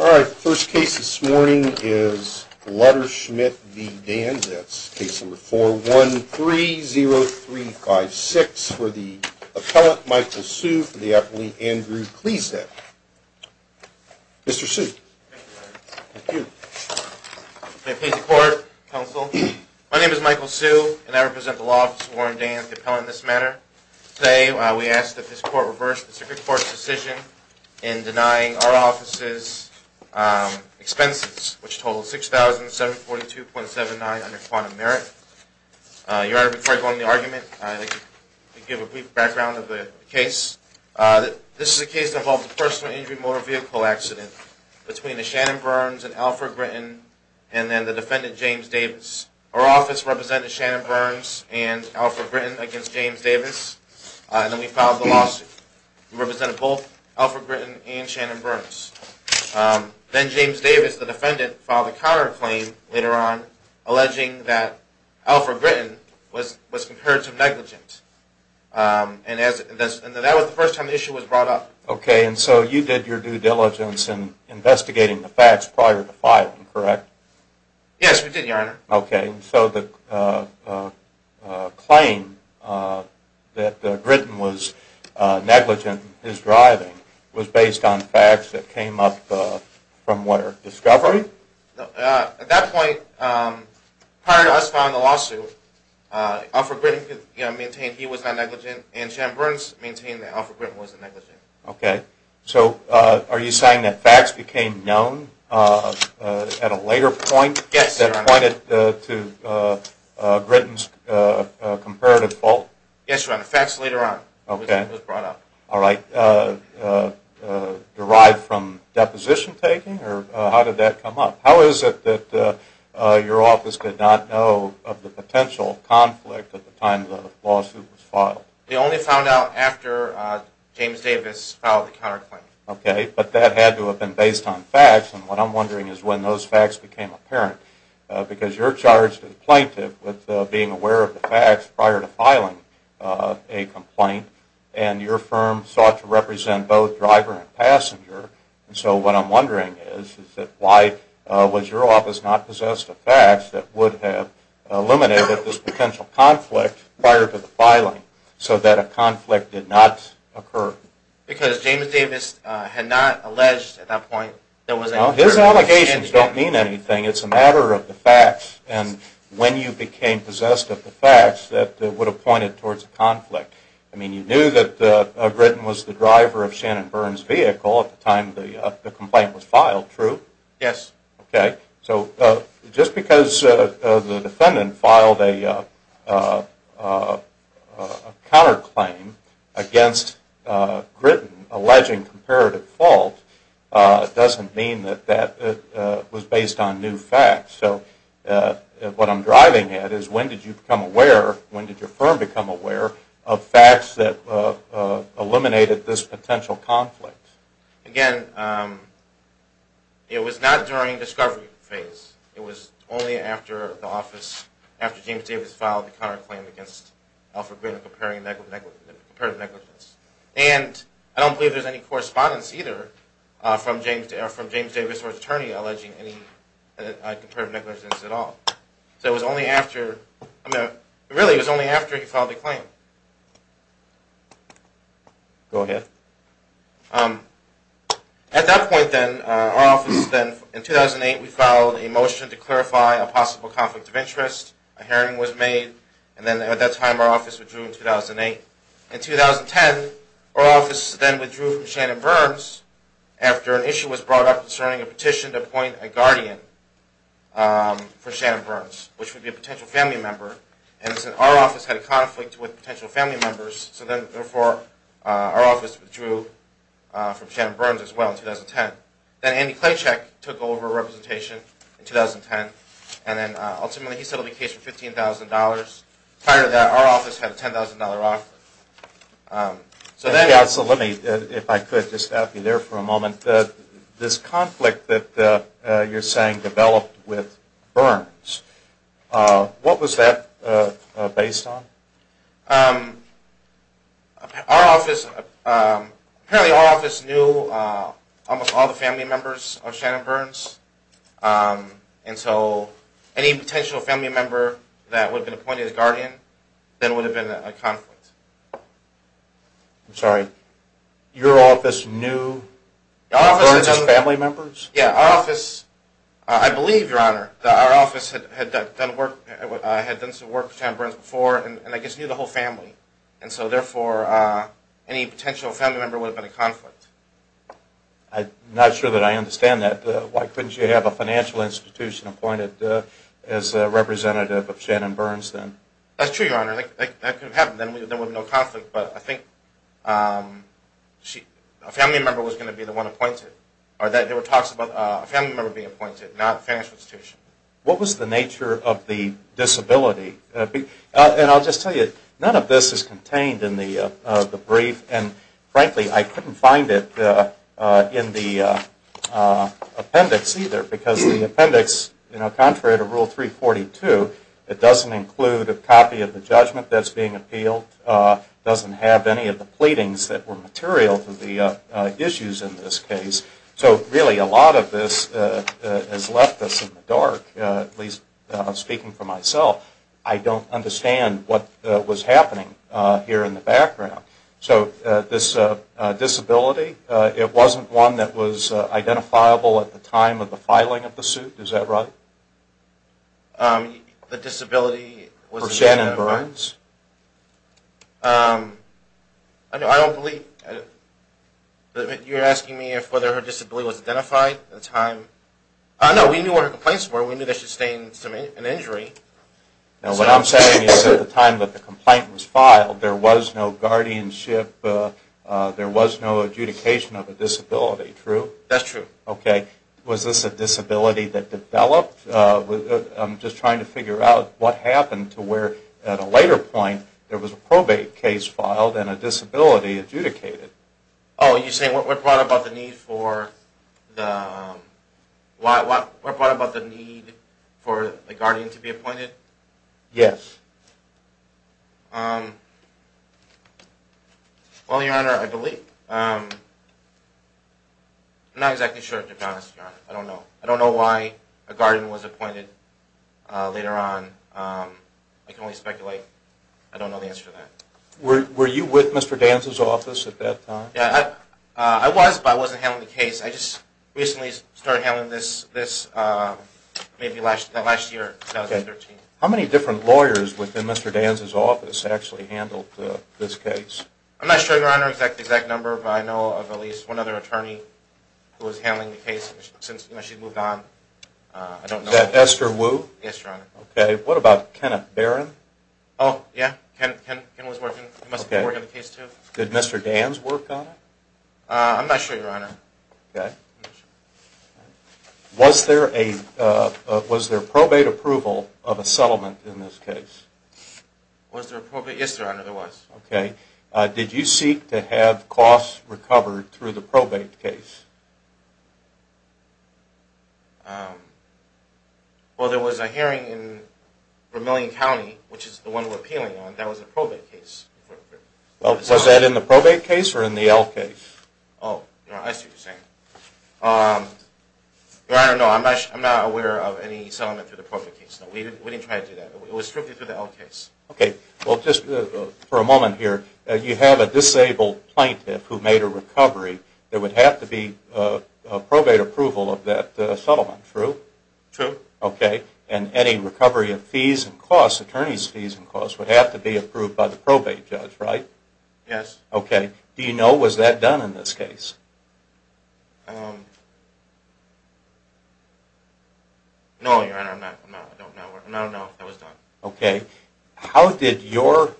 All right, first case this morning is Lutterschmidt v. Danz. That's case number 4-1-3-0-3-5-6. For the appellant, Michael Sue. For the appellant, Andrew Kleesdek. Mr. Sue. Thank you, Your Honor. Thank you. May it please the Court, Counsel. My name is Michael Sue, and I represent the Law Office of Warren Danz, the appellant in this matter. Today, we ask that this Court reverse the Circuit Court's decision in denying our office's expenses, which total $6,742.79 under quantum merit. Your Honor, before I go into the argument, I'd like to give a brief background of the case. This is a case that involves a personal injury motor vehicle accident between a Shannon Burns and Alfred Britton, and then the defendant, James Davis. Our office represented Shannon Burns and Alfred Britton against James Davis, and then we filed the lawsuit. We represented both Alfred Britton and Shannon Burns. Then James Davis, the defendant, filed a counterclaim later on, alleging that Alfred Britton was comparative negligent. And that was the first time the issue was brought up. Okay, and so you did your due diligence in investigating the facts prior to filing, correct? Yes, we did, Your Honor. Okay, so the claim that Britton was negligent in his driving was based on facts that came up from where? Discovery? At that point, prior to us filing the lawsuit, Alfred Britton maintained he was not negligent, and Shannon Burns maintained that Alfred Britton wasn't negligent. Okay, so are you saying that facts became known at a later point? Yes, Your Honor. That pointed to Britton's comparative fault? Yes, Your Honor, facts later on was brought up. Okay, all right. Derived from deposition taking, or how did that come up? How is it that your office could not know of the potential conflict at the time the lawsuit was filed? They only found out after James Davis filed the counterclaim. Okay, but that had to have been based on facts, and what I'm wondering is when those facts became apparent. Because you're charged as a plaintiff with being aware of the facts prior to filing a complaint, and your firm sought to represent both driver and passenger. So what I'm wondering is, why was your office not possessed of facts that would have eliminated this potential conflict prior to the filing, so that a conflict did not occur? Because James Davis had not alleged at that point that there was any... Well, his allegations don't mean anything. It's a matter of the facts, and when you became possessed of the facts, that would have pointed towards a conflict. I mean, you knew that Grittin was the driver of Shannon Byrne's vehicle at the time the complaint was filed, true? Yes. Okay, so just because the defendant filed a counterclaim against Grittin, alleging comparative fault, doesn't mean that that was based on new facts. So what I'm driving at is, when did you become aware, when did your firm become aware of facts that eliminated this potential conflict? Again, it was not during discovery phase. It was only after the office, after James Davis filed the counterclaim against Alfred Grittin of comparative negligence. And I don't believe there's any correspondence either from James Davis or his attorney alleging any comparative negligence at all. So it was only after, really it was only after he filed the claim. Go ahead. At that point then, our office then, in 2008 we filed a motion to clarify a possible conflict of interest, a hearing was made, and then at that time our office withdrew in 2008. In 2010, our office then withdrew from Shannon Byrne's after an issue was brought up concerning a petition to appoint a guardian for Shannon Byrne's, which would be a potential family member. And our office had a conflict with potential family members, so therefore our office withdrew from Shannon Byrne's as well in 2010. Then Andy Klachek took over representation in 2010, and then ultimately he settled the case for $15,000. Prior to that, our office had a $10,000 offer. So let me, if I could, just stop you there for a moment. This conflict that you're saying developed with Byrne's, what was that based on? Our office, apparently our office knew almost all the family members of Shannon Byrne's, and so any potential family member that would have been appointed as guardian then would have been a conflict. I'm sorry, your office knew Byrne's family members? Yeah, our office, I believe your honor, our office had done some work for Shannon Byrne's before and I guess knew the whole family, and so therefore any potential family member would have been a conflict. I'm not sure that I understand that. Why couldn't you have a financial institution appointed as a representative of Shannon Byrne's then? That's true, your honor, that could have happened, then there would have been no conflict, but I think a family member was going to be the one appointed. There were talks about a family member being appointed, not a financial institution. What was the nature of the disability? And I'll just tell you, none of this is contained in the brief, and frankly I couldn't find it in the appendix either, because the appendix, contrary to Rule 342, it doesn't include a copy of the judgment that's being appealed, it doesn't have any of the pleadings that were material to the issues in this case. So really a lot of this has left us in the dark, at least speaking for myself. I don't understand what was happening here in the background. So this disability, it wasn't one that was identifiable at the time of the filing of the suit, is that right? The disability was identified... For Shannon Byrne's? I don't believe... you're asking me whether her disability was identified at the time? No, we knew what her complaints were, we knew that she sustained an injury. Now what I'm saying is at the time that the complaint was filed, there was no guardianship, there was no adjudication of a disability, true? That's true. Was this a disability that developed? I'm just trying to figure out what happened to where at a later point there was a probate case filed and a disability adjudicated. Oh, you're saying what brought about the need for the... what brought about the need for a guardian to be appointed? Yes. Well, Your Honor, I believe. I'm not exactly sure to be honest, Your Honor. I don't know. I don't know why a guardian was appointed later on. I can only speculate. I don't know the answer to that. Were you with Mr. Danza's office at that time? I was, but I wasn't handling the case. I just recently started handling this maybe last year, 2013. How many different lawyers within Mr. Danza's office actually handled this case? I'm not sure, Your Honor, the exact number, but I know of at least one other attorney who was handling the case since she moved on. Is that Esther Wu? Yes, Your Honor. Okay, what about Kenneth Barron? Oh, yeah. Kenneth was working on the case too. Did Mr. Danza work on it? I'm not sure, Your Honor. Okay. Was there probate approval of a settlement in this case? Yes, Your Honor, there was. Okay. Did you seek to have costs recovered through the probate case? Well, there was a hearing in Vermillion County, which is the one we're appealing on, that was a probate case. Well, was that in the probate case or in the L case? Oh, I see what you're saying. Your Honor, no, I'm not aware of any settlement through the probate case. We didn't try to do that. It was strictly through the L case. Okay. Well, just for a moment here, you have a disabled plaintiff who made a recovery. There would have to be a probate approval of that settlement, true? True. Okay. And any recovery of fees and costs, attorney's fees and costs, would have to be approved by the probate judge, right? Yes. Okay. Do you know, was that done in this case? No, Your Honor, I don't know. I don't know if that was done. Okay. How did your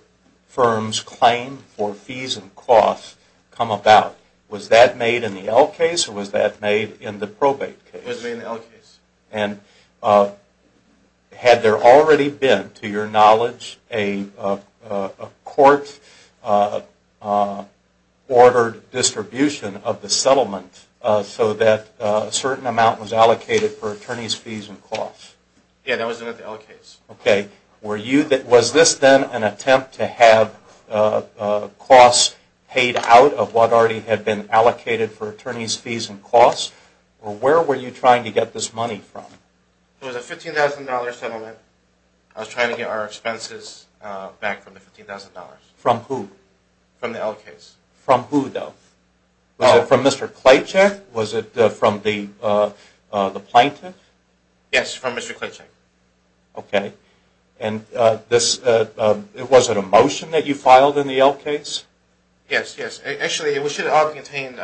firm's claim for fees and costs come about? Was that made in the L case or was that made in the probate case? It was made in the L case. And had there already been, to your knowledge, a court-ordered distribution of the settlement so that a certain amount was allocated for attorney's fees and costs? Yes, that was done in the L case. Okay. Was this then an attempt to have costs paid out of what already had been allocated for attorney's fees and costs? Where were you trying to get this money from? It was a $15,000 settlement. I was trying to get our expenses back from the $15,000. From who? From the L case. From who, though? Was it from Mr. Klejcik? Was it from the plaintiff? Yes, from Mr. Klejcik. Okay. And was it a motion that you filed in the L case? Yes, yes. Actually, it should have contained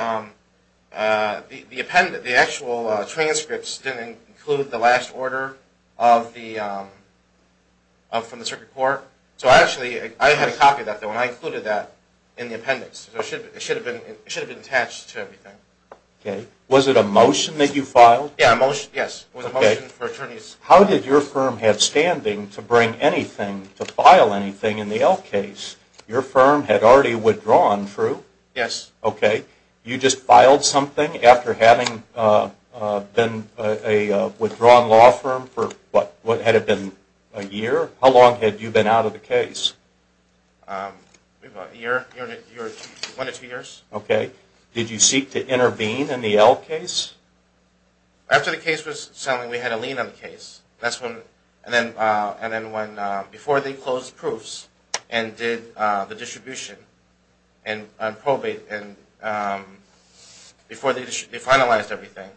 the actual transcripts didn't include the last order from the circuit court. So actually, I had a copy of that, though, and I included that in the appendix. It should have been attached to everything. Was it a motion? Yes, it was a motion for attorneys. How did your firm have standing to bring anything, to file anything in the L case? Your firm had already withdrawn, true? Yes. Okay. You just filed something after having been a withdrawn law firm for, what, had it been a year? How long had you been out of the case? About a year, one to two years. Okay. Did you seek to intervene in the L case? After the case was settled, we had a lien on the case. That's when, and then when, before they closed the proofs and did the distribution and probate, and before they finalized everything,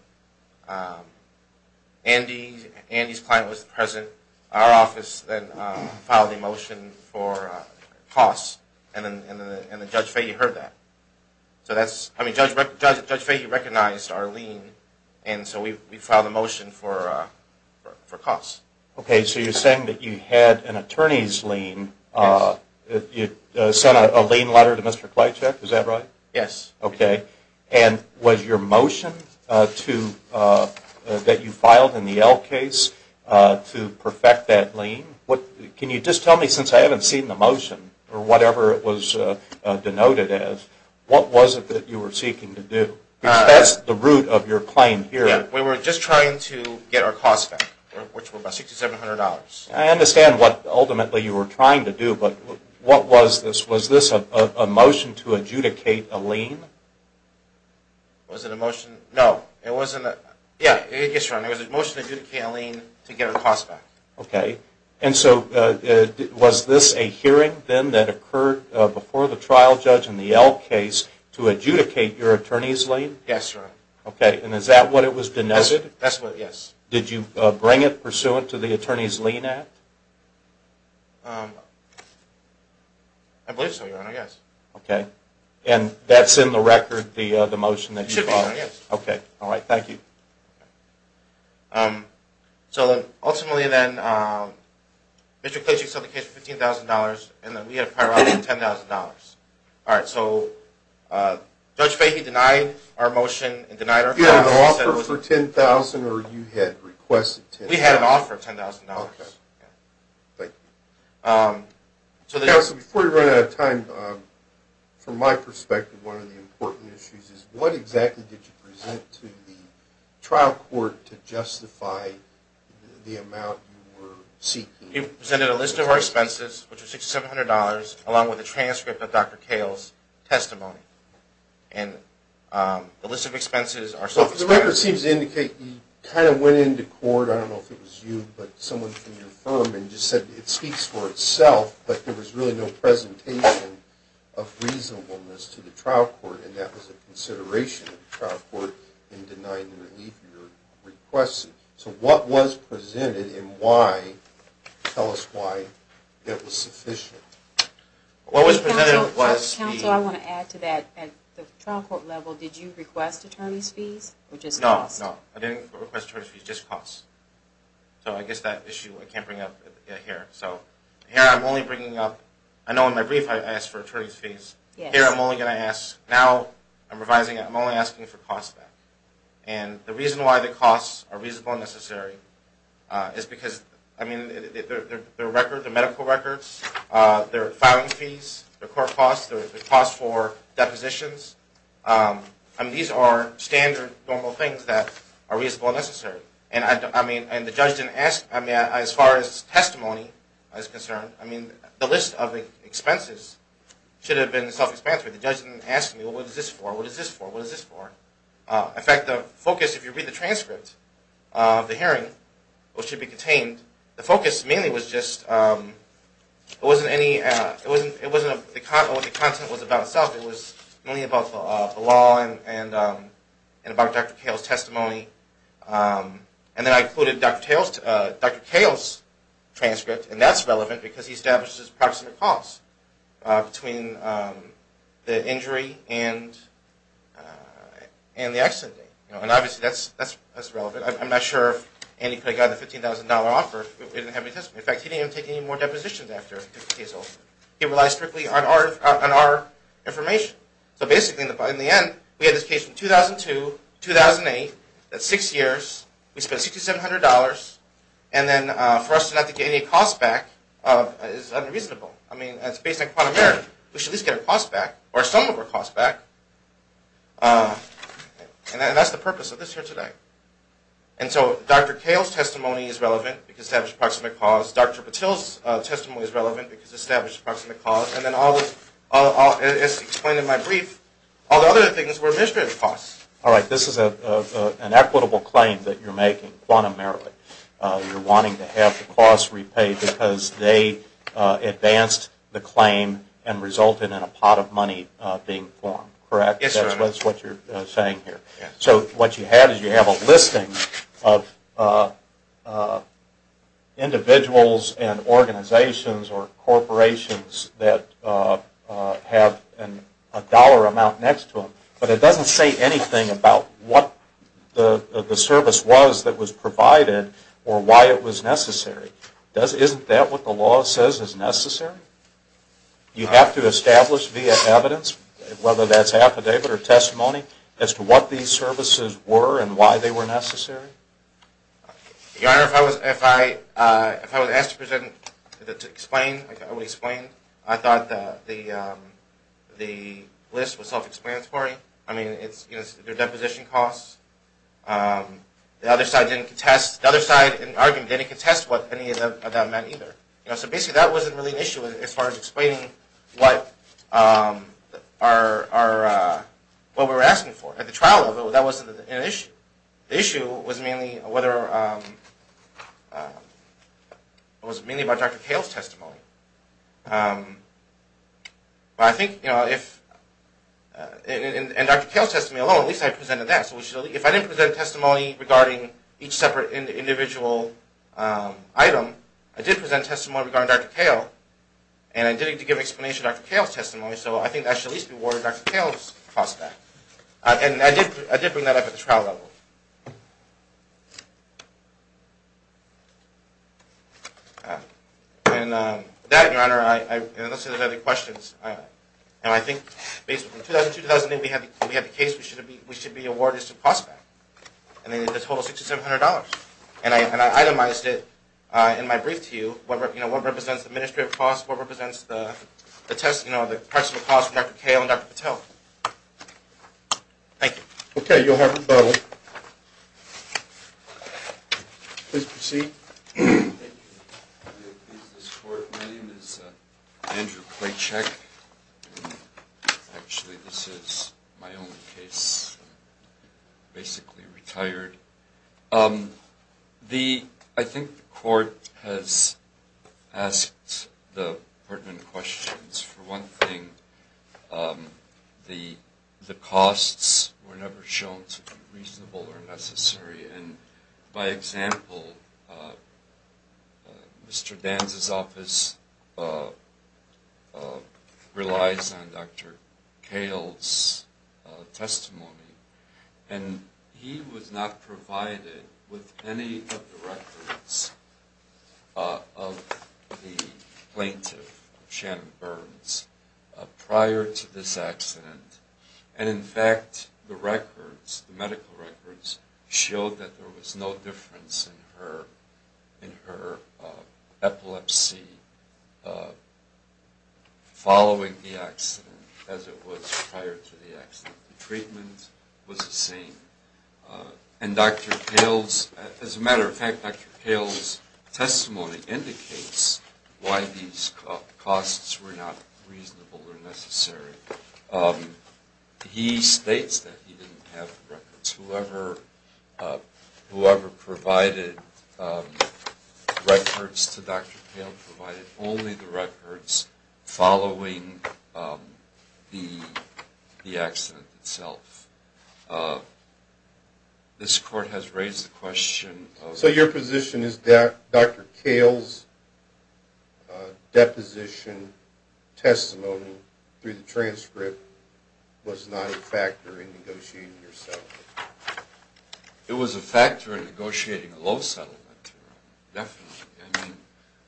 Andy's client was present. Our office then filed a motion for costs, and then Judge Fahey heard that. So that's, I mean, Judge Fahey recognized our lien, and so we filed a motion for costs. Okay. So you're saying that you had an attorney's lien, you sent a lien letter to Mr. Klychek, is that right? Yes. Okay. And was your motion to, that you filed in the L case to perfect that lien? Can you just tell me, since I haven't seen the motion, or whatever it was denoted as, what was it that you were seeking to do? Because that's the root of your claim here. Yeah. We were just trying to get our costs back, which were about $6,700. I understand what ultimately you were trying to do, but what was this? Was this a motion to adjudicate a lien? Was it a motion? No. It wasn't a, yeah, yes, Your Honor, it was a motion to adjudicate a lien to get our costs back. Okay. And so was this a hearing then that occurred before the trial judge in the L case to adjudicate your attorney's lien? Yes, Your Honor. Okay. And is that what it was denoted? That's what it is. Did you bring it pursuant to the Attorney's Lien Act? I believe so, Your Honor, yes. Okay. And that's in the record, the motion that you filed? It should be, Your Honor, yes. Okay. All right. Thank you. So ultimately then, Mr. Klage accepted the case for $15,000, and then we had a priority of $10,000. All right. So Judge Fahey denied our motion and denied our claim. You had an offer for $10,000 or you had requested $10,000? We had an offer of $10,000. Okay. Thank you. Counsel, before we run out of time, from my perspective, one of the important issues is, what exactly did you present to the trial court to justify the amount you were seeking? We presented a list of our expenses, which was $6,700, along with a transcript of Dr. Kahle's testimony. And the list of expenses are self-explanatory. The record seems to indicate you kind of went into court, I don't know if it was you, but someone from your firm just said it speaks for itself, but there was really no presentation of reasonableness to the trial court, and that was a consideration of the trial court in denying the relief you were requesting. So what was presented and why? Tell us why that was sufficient. What was presented was the… Counsel, I want to add to that. At the trial court level, did you request attorney's fees or just cost? No, no. I didn't request attorney's fees, just cost. So I guess that issue I can't bring up here. So here I'm only bringing up, I know in my brief I asked for attorney's fees. Here I'm only going to ask, now I'm revising it, I'm only asking for cost of that. And the reason why the costs are reasonable and necessary is because, I mean, their medical records, their filing fees, their court costs, their costs for depositions, I mean, these are standard, normal things that are reasonable and necessary. And I mean, the judge didn't ask, I mean, as far as testimony is concerned, I mean, the list of expenses should have been self-explanatory. The judge didn't ask me, well, what is this for, what is this for, what is this for? In fact, the focus, if you read the transcript of the hearing, which should be contained, the focus mainly was just, it wasn't any, it wasn't, the content was about itself. It was mainly about the law and about Dr. Cale's testimony. And then I included Dr. Cale's transcript, and that's relevant because he establishes approximate costs between the injury and the accident. And obviously that's relevant. I'm not sure if Andy could have gotten a $15,000 offer if he didn't have any testimony. In fact, he didn't even take any more depositions after 50 days. So he relies strictly on our information. So basically, in the end, we had this case in 2002, 2008, that's six years. We spent $6,700. And then for us not to get any costs back is unreasonable. I mean, it's based on quantum merit. We should at least get our costs back, or some of our costs back. And that's the purpose of this here today. And so Dr. Cale's testimony is relevant because it establishes approximate costs. Dr. Patil's testimony is relevant because it establishes approximate costs. And then as explained in my brief, all the other things were administrative costs. All right. This is an equitable claim that you're making, quantum merit. You're wanting to have the costs repaid because they advanced the claim and resulted in a pot of money being formed, correct? Yes, sir. That's what you're saying here. So what you have is you have a listing of individuals and organizations or corporations that have a dollar amount next to them. But it doesn't say anything about what the service was that was provided or why it was necessary. Isn't that what the law says is necessary? You have to establish via evidence, whether that's affidavit or testimony, as to what these services were and why they were necessary? Your Honor, if I was asked to explain, I thought the list was self-explanatory. I mean, it's their deposition costs. The other side didn't contest. The other side in the argument didn't contest what any of that meant either. So basically that wasn't really an issue as far as explaining what we were asking for. At the trial level, that wasn't an issue. The issue was mainly about Dr. Cale's testimony. But I think, in Dr. Cale's testimony alone, at least I presented that. So if I didn't present testimony regarding each separate individual item, I did present testimony regarding Dr. Cale, and I did need to give an explanation of Dr. Cale's testimony. So I think that should at least be awarded Dr. Cale's cost back. And I did bring that up at the trial level. And with that, Your Honor, unless there are any other questions. And I think, basically, in 2002-2008, we had the case. We should be awarded its cost back. And it was a total of $6,700. And I itemized it in my brief to you, what represents the administrative cost, what represents the parts of the cost for Dr. Cale and Dr. Patel. Thank you. Okay, Your Honor. Please proceed. Thank you. My name is Andrew Claycheck. Actually, this is my own case. I'm basically retired. I think the court has asked the pertinent questions. For one thing, the costs were never shown to be reasonable or necessary. And, by example, Mr. Danza's office relies on Dr. Cale's testimony. And he was not provided with any of the records of the plaintiff, Shannon Burns, prior to this accident. And, in fact, the records, the medical records, showed that there was no difference in her epilepsy following the accident as it was prior to the accident. The treatment was the same. And Dr. Cale's, as a matter of fact, Dr. Cale's testimony indicates why these costs were not reasonable or necessary. He states that he didn't have records. Whoever provided records to Dr. Cale provided only the records following the accident itself. This court has raised the question of... Your testimony through the transcript was not a factor in negotiating your settlement. It was a factor in negotiating a low settlement. Definitely.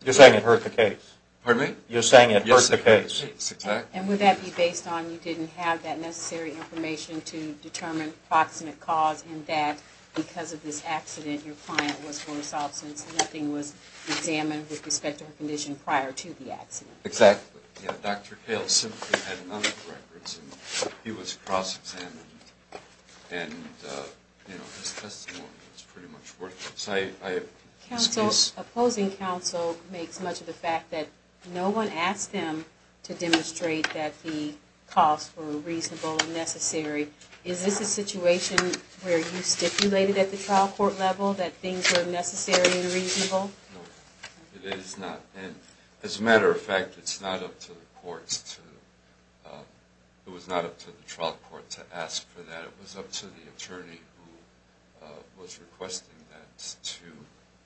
You're saying it hurt the case. Pardon me? You're saying it hurt the case. Yes, it hurt the case. Exactly. And would that be based on you didn't have that necessary information to determine proximate cause and that, because of this accident, your client was for assault since nothing was examined with respect to her condition prior to the accident? Exactly. Dr. Cale simply had none of the records, and he was cross-examined, and his testimony was pretty much worthless. Opposing counsel makes much of the fact that no one asked him to demonstrate that the costs were reasonable and necessary. Is this a situation where you stipulated at the trial court level that things were necessary and reasonable? No, it is not. And as a matter of fact, it's not up to the courts to... It was not up to the trial court to ask for that. It was up to the attorney who was requesting that to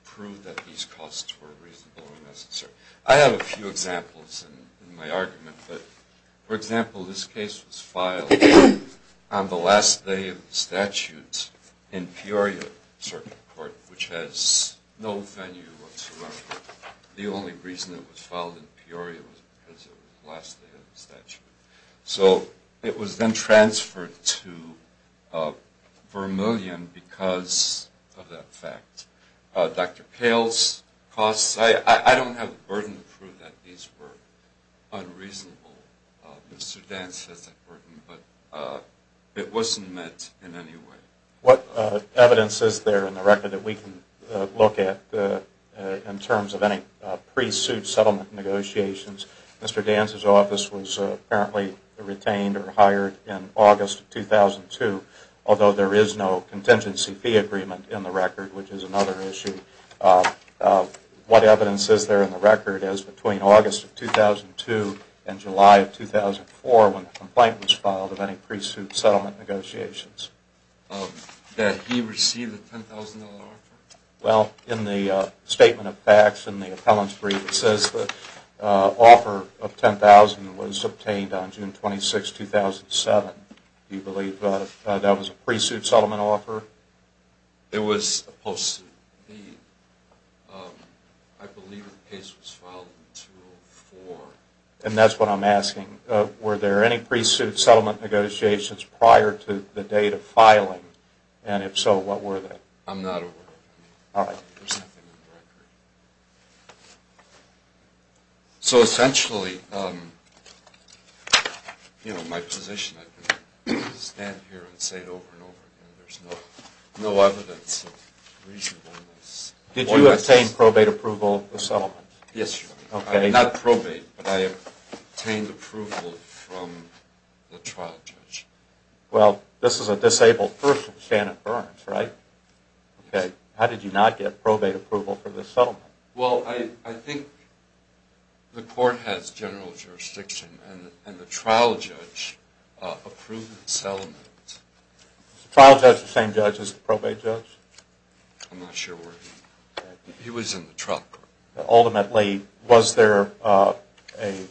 prove that these costs were reasonable and necessary. I have a few examples in my argument. For example, this case was filed on the last day of the statute in Peoria Circuit Court, which has no venue whatsoever. The only reason it was filed in Peoria was because it was the last day of the statute. So it was then transferred to Vermilion because of that fact. Dr. Cale's costs, I don't have the burden to prove that these were unreasonable. Mr. Dance has that burden, but it wasn't met in any way. What evidence is there in the record that we can look at in terms of any pre-suit settlement negotiations? Mr. Dance's office was apparently retained or hired in August of 2002, although there is no contingency fee agreement in the record, which is another issue. What evidence is there in the record is between August of 2002 and July of 2004 when the complaint was filed of any pre-suit settlement negotiations. That he received a $10,000 offer? Well, in the Statement of Facts in the Appellants Brief, it says the offer of $10,000 was obtained on June 26, 2007. Do you believe that was a pre-suit settlement offer? It was a post-suit. I believe the case was filed in 2004. And that's what I'm asking. Were there any pre-suit settlement negotiations prior to the date of filing? And if so, what were they? I'm not aware of any. All right. There's nothing in the record. So essentially, you know, my position, I can stand here and say it over and over again, there's no evidence of reasonableness. Did you obtain probate approval for settlement? Yes, Your Honor. Okay. Not probate, but I obtained approval from the trial judge. Well, this is a disabled person, Shannon Burns, right? Yes. How did you not get probate approval for the settlement? Well, I think the court has general jurisdiction, and the trial judge approved the settlement. Was the trial judge the same judge as the probate judge? I'm not sure. He was in the truck. Ultimately, was there an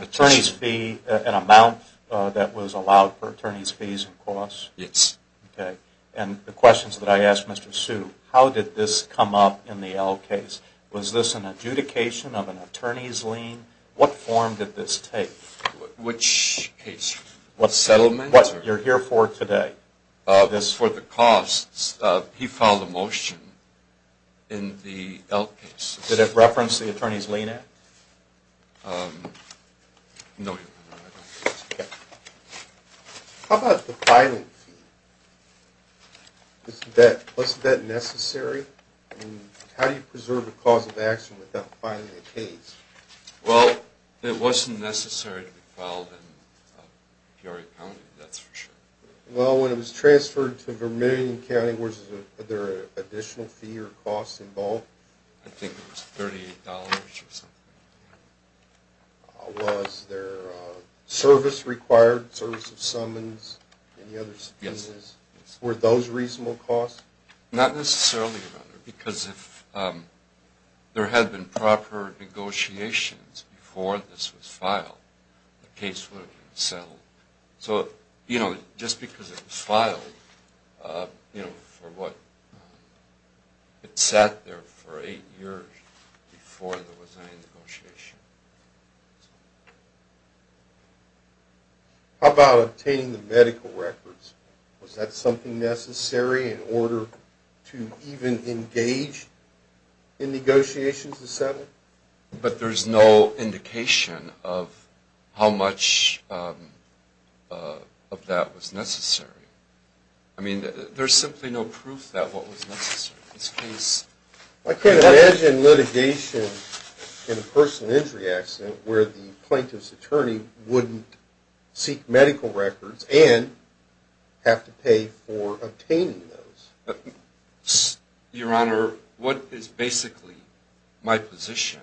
attorney's fee, an amount that was allowed for attorney's fees and costs? Yes. Okay. And the questions that I asked Mr. Hsu, how did this come up in the L case? Was this an adjudication of an attorney's lien? What form did this take? Which case? Settlement? What you're here for today. For the costs, he filed a motion in the L case. Did it reference the Attorney's Lien Act? No, Your Honor. Okay. How about the filing fee? Was that necessary? How do you preserve a cause of action without filing a case? Well, it wasn't necessary to be filed in Peoria County, that's for sure. Well, when it was transferred to Vermilion County, was there an additional fee or cost involved? I think it was $38 or something. Was there service required, service of summons, any other services? Yes. Were those reasonable costs? Not necessarily, Your Honor, because if there had been proper negotiations before this was filed, the case would have been settled. So, you know, just because it was filed, you know, for what? It sat there for eight years before there was any negotiation. How about obtaining the medical records? Was that something necessary in order to even engage in negotiations to settle? But there's no indication of how much of that was necessary. I mean, there's simply no proof that what was necessary in this case. I can't imagine litigation in a personal injury accident where the plaintiff's attorney wouldn't seek medical records and have to pay for obtaining those. Your Honor, what is basically my position?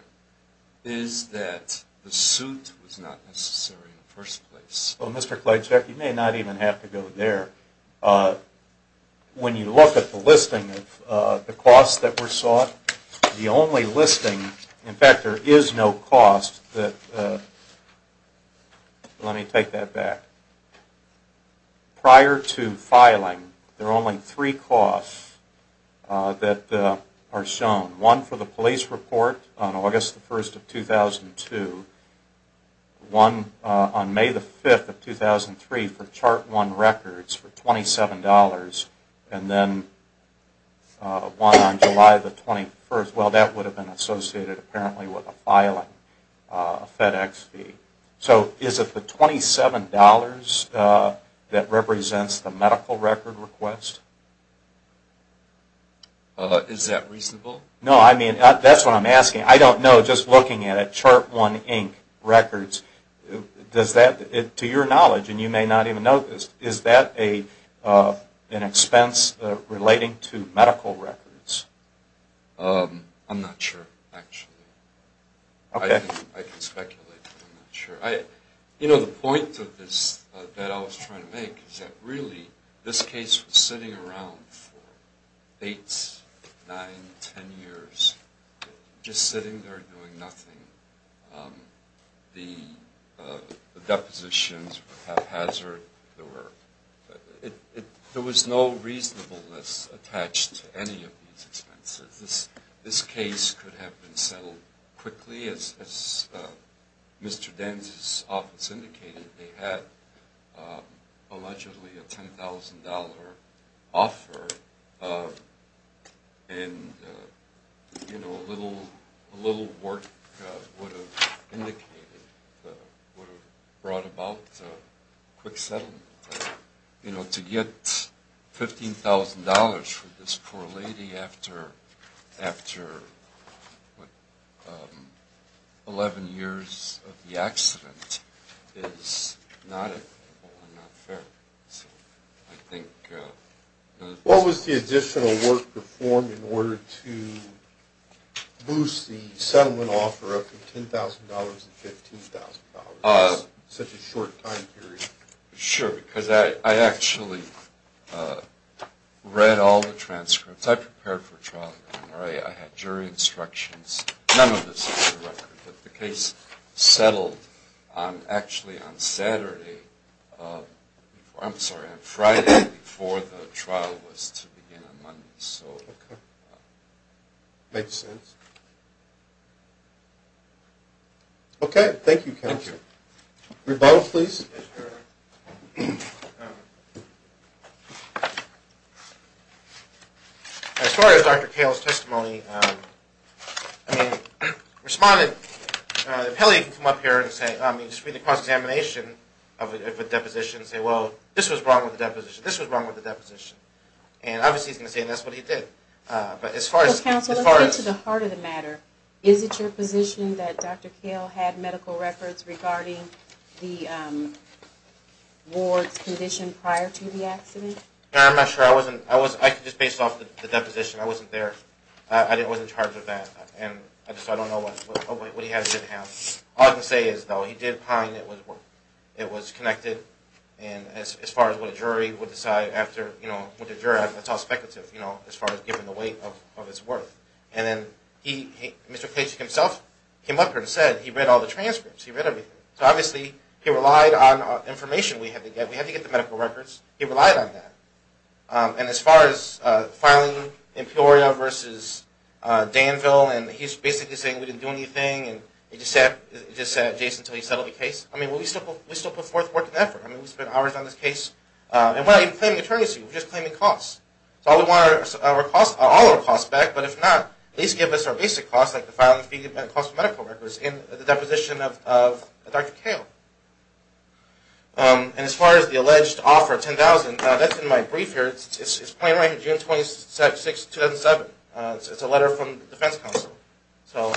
Is that the suit was not necessary in the first place? Well, Mr. Kleychek, you may not even have to go there. When you look at the listing of the costs that were sought, the only listing – in fact, there is no cost that – let me take that back. Prior to filing, there are only three costs that are shown. One for the police report on August the 1st of 2002. One on May the 5th of 2003 for chart one records for $27. And then one on July the 21st. Well, that would have been associated apparently with a filing FedEx fee. So is it the $27 that represents the medical record request? Is that reasonable? No, I mean, that's what I'm asking. I don't know. Just looking at it, chart one records, to your knowledge, and you may not even know this, is that an expense relating to medical records? I'm not sure, actually. I can speculate, but I'm not sure. You know, the point of this that I was trying to make is that really this case was sitting around for eight, nine, ten years, just sitting there doing nothing. The depositions were haphazard. There was no reasonableness attached to any of these expenses. This case could have been settled quickly, as Mr. Danz's office indicated. They had allegedly a $10,000 offer, and, you know, a little work would have indicated, would have brought about a quick settlement. You know, to get $15,000 for this poor lady after 11 years of the accident is not equitable and not fair. I think... What was the additional work performed in order to boost the settlement offer up from $10,000 to $15,000 in such a short time period? Sure, because I actually read all the transcripts. I prepared for a trial. I had jury instructions. None of this is in the record, but the case settled actually on Saturday. I'm sorry, on Friday before the trial was to begin on Monday, so... Okay. Makes sense. Okay, thank you, counsel. Thank you. Rebuttal, please. Yes, Your Honor. As far as Dr. Kahle's testimony, I mean, responded... If Haley can come up here and say... I mean, just read the cross-examination of a deposition and say, well, this was wrong with the deposition, this was wrong with the deposition. And obviously he's going to say, and that's what he did. But as far as... Counsel, let's get to the heart of the matter. Is it your position that Dr. Kahle had medical records regarding the ward's condition prior to the accident? I'm not sure. I was just based off the deposition. I wasn't there. I wasn't charged with that. And I just don't know what he had or didn't have. All I can say is, though, he did pine it was connected. And as far as what a jury would decide after, you know, what the jury... That's all speculative, you know, as far as given the weight of his work. And then he, Mr. Pace himself, came up here and said he read all the transcripts. He read everything. So obviously he relied on information we had to get. We had to get the medical records. He relied on that. And as far as filing Emporia versus Danville, and he's basically saying we didn't do anything. And he just sat adjacent until he settled the case. I mean, we still put forth work and effort. I mean, we spent hours on this case. And we're not even claiming an attorney's seat. We're just claiming costs. So we want all of our costs back, but if not, at least give us our basic costs, like the filing fee and the cost of medical records in the deposition of Dr. Kahle. And as far as the alleged offer of $10,000, that's in my brief here. It's plain right here, June 26, 2007. It's a letter from the Defense Council. So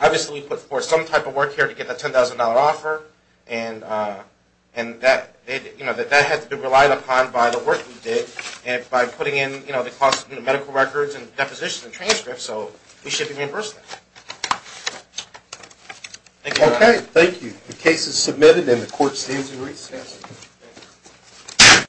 obviously we put forth some type of work here to get that $10,000 offer, and that has to be relied upon by the work we did, and by putting in the cost of medical records and depositions and transcripts. So we should reimburse that. Thank you. Okay, thank you. The case is submitted, and the court stands in recess.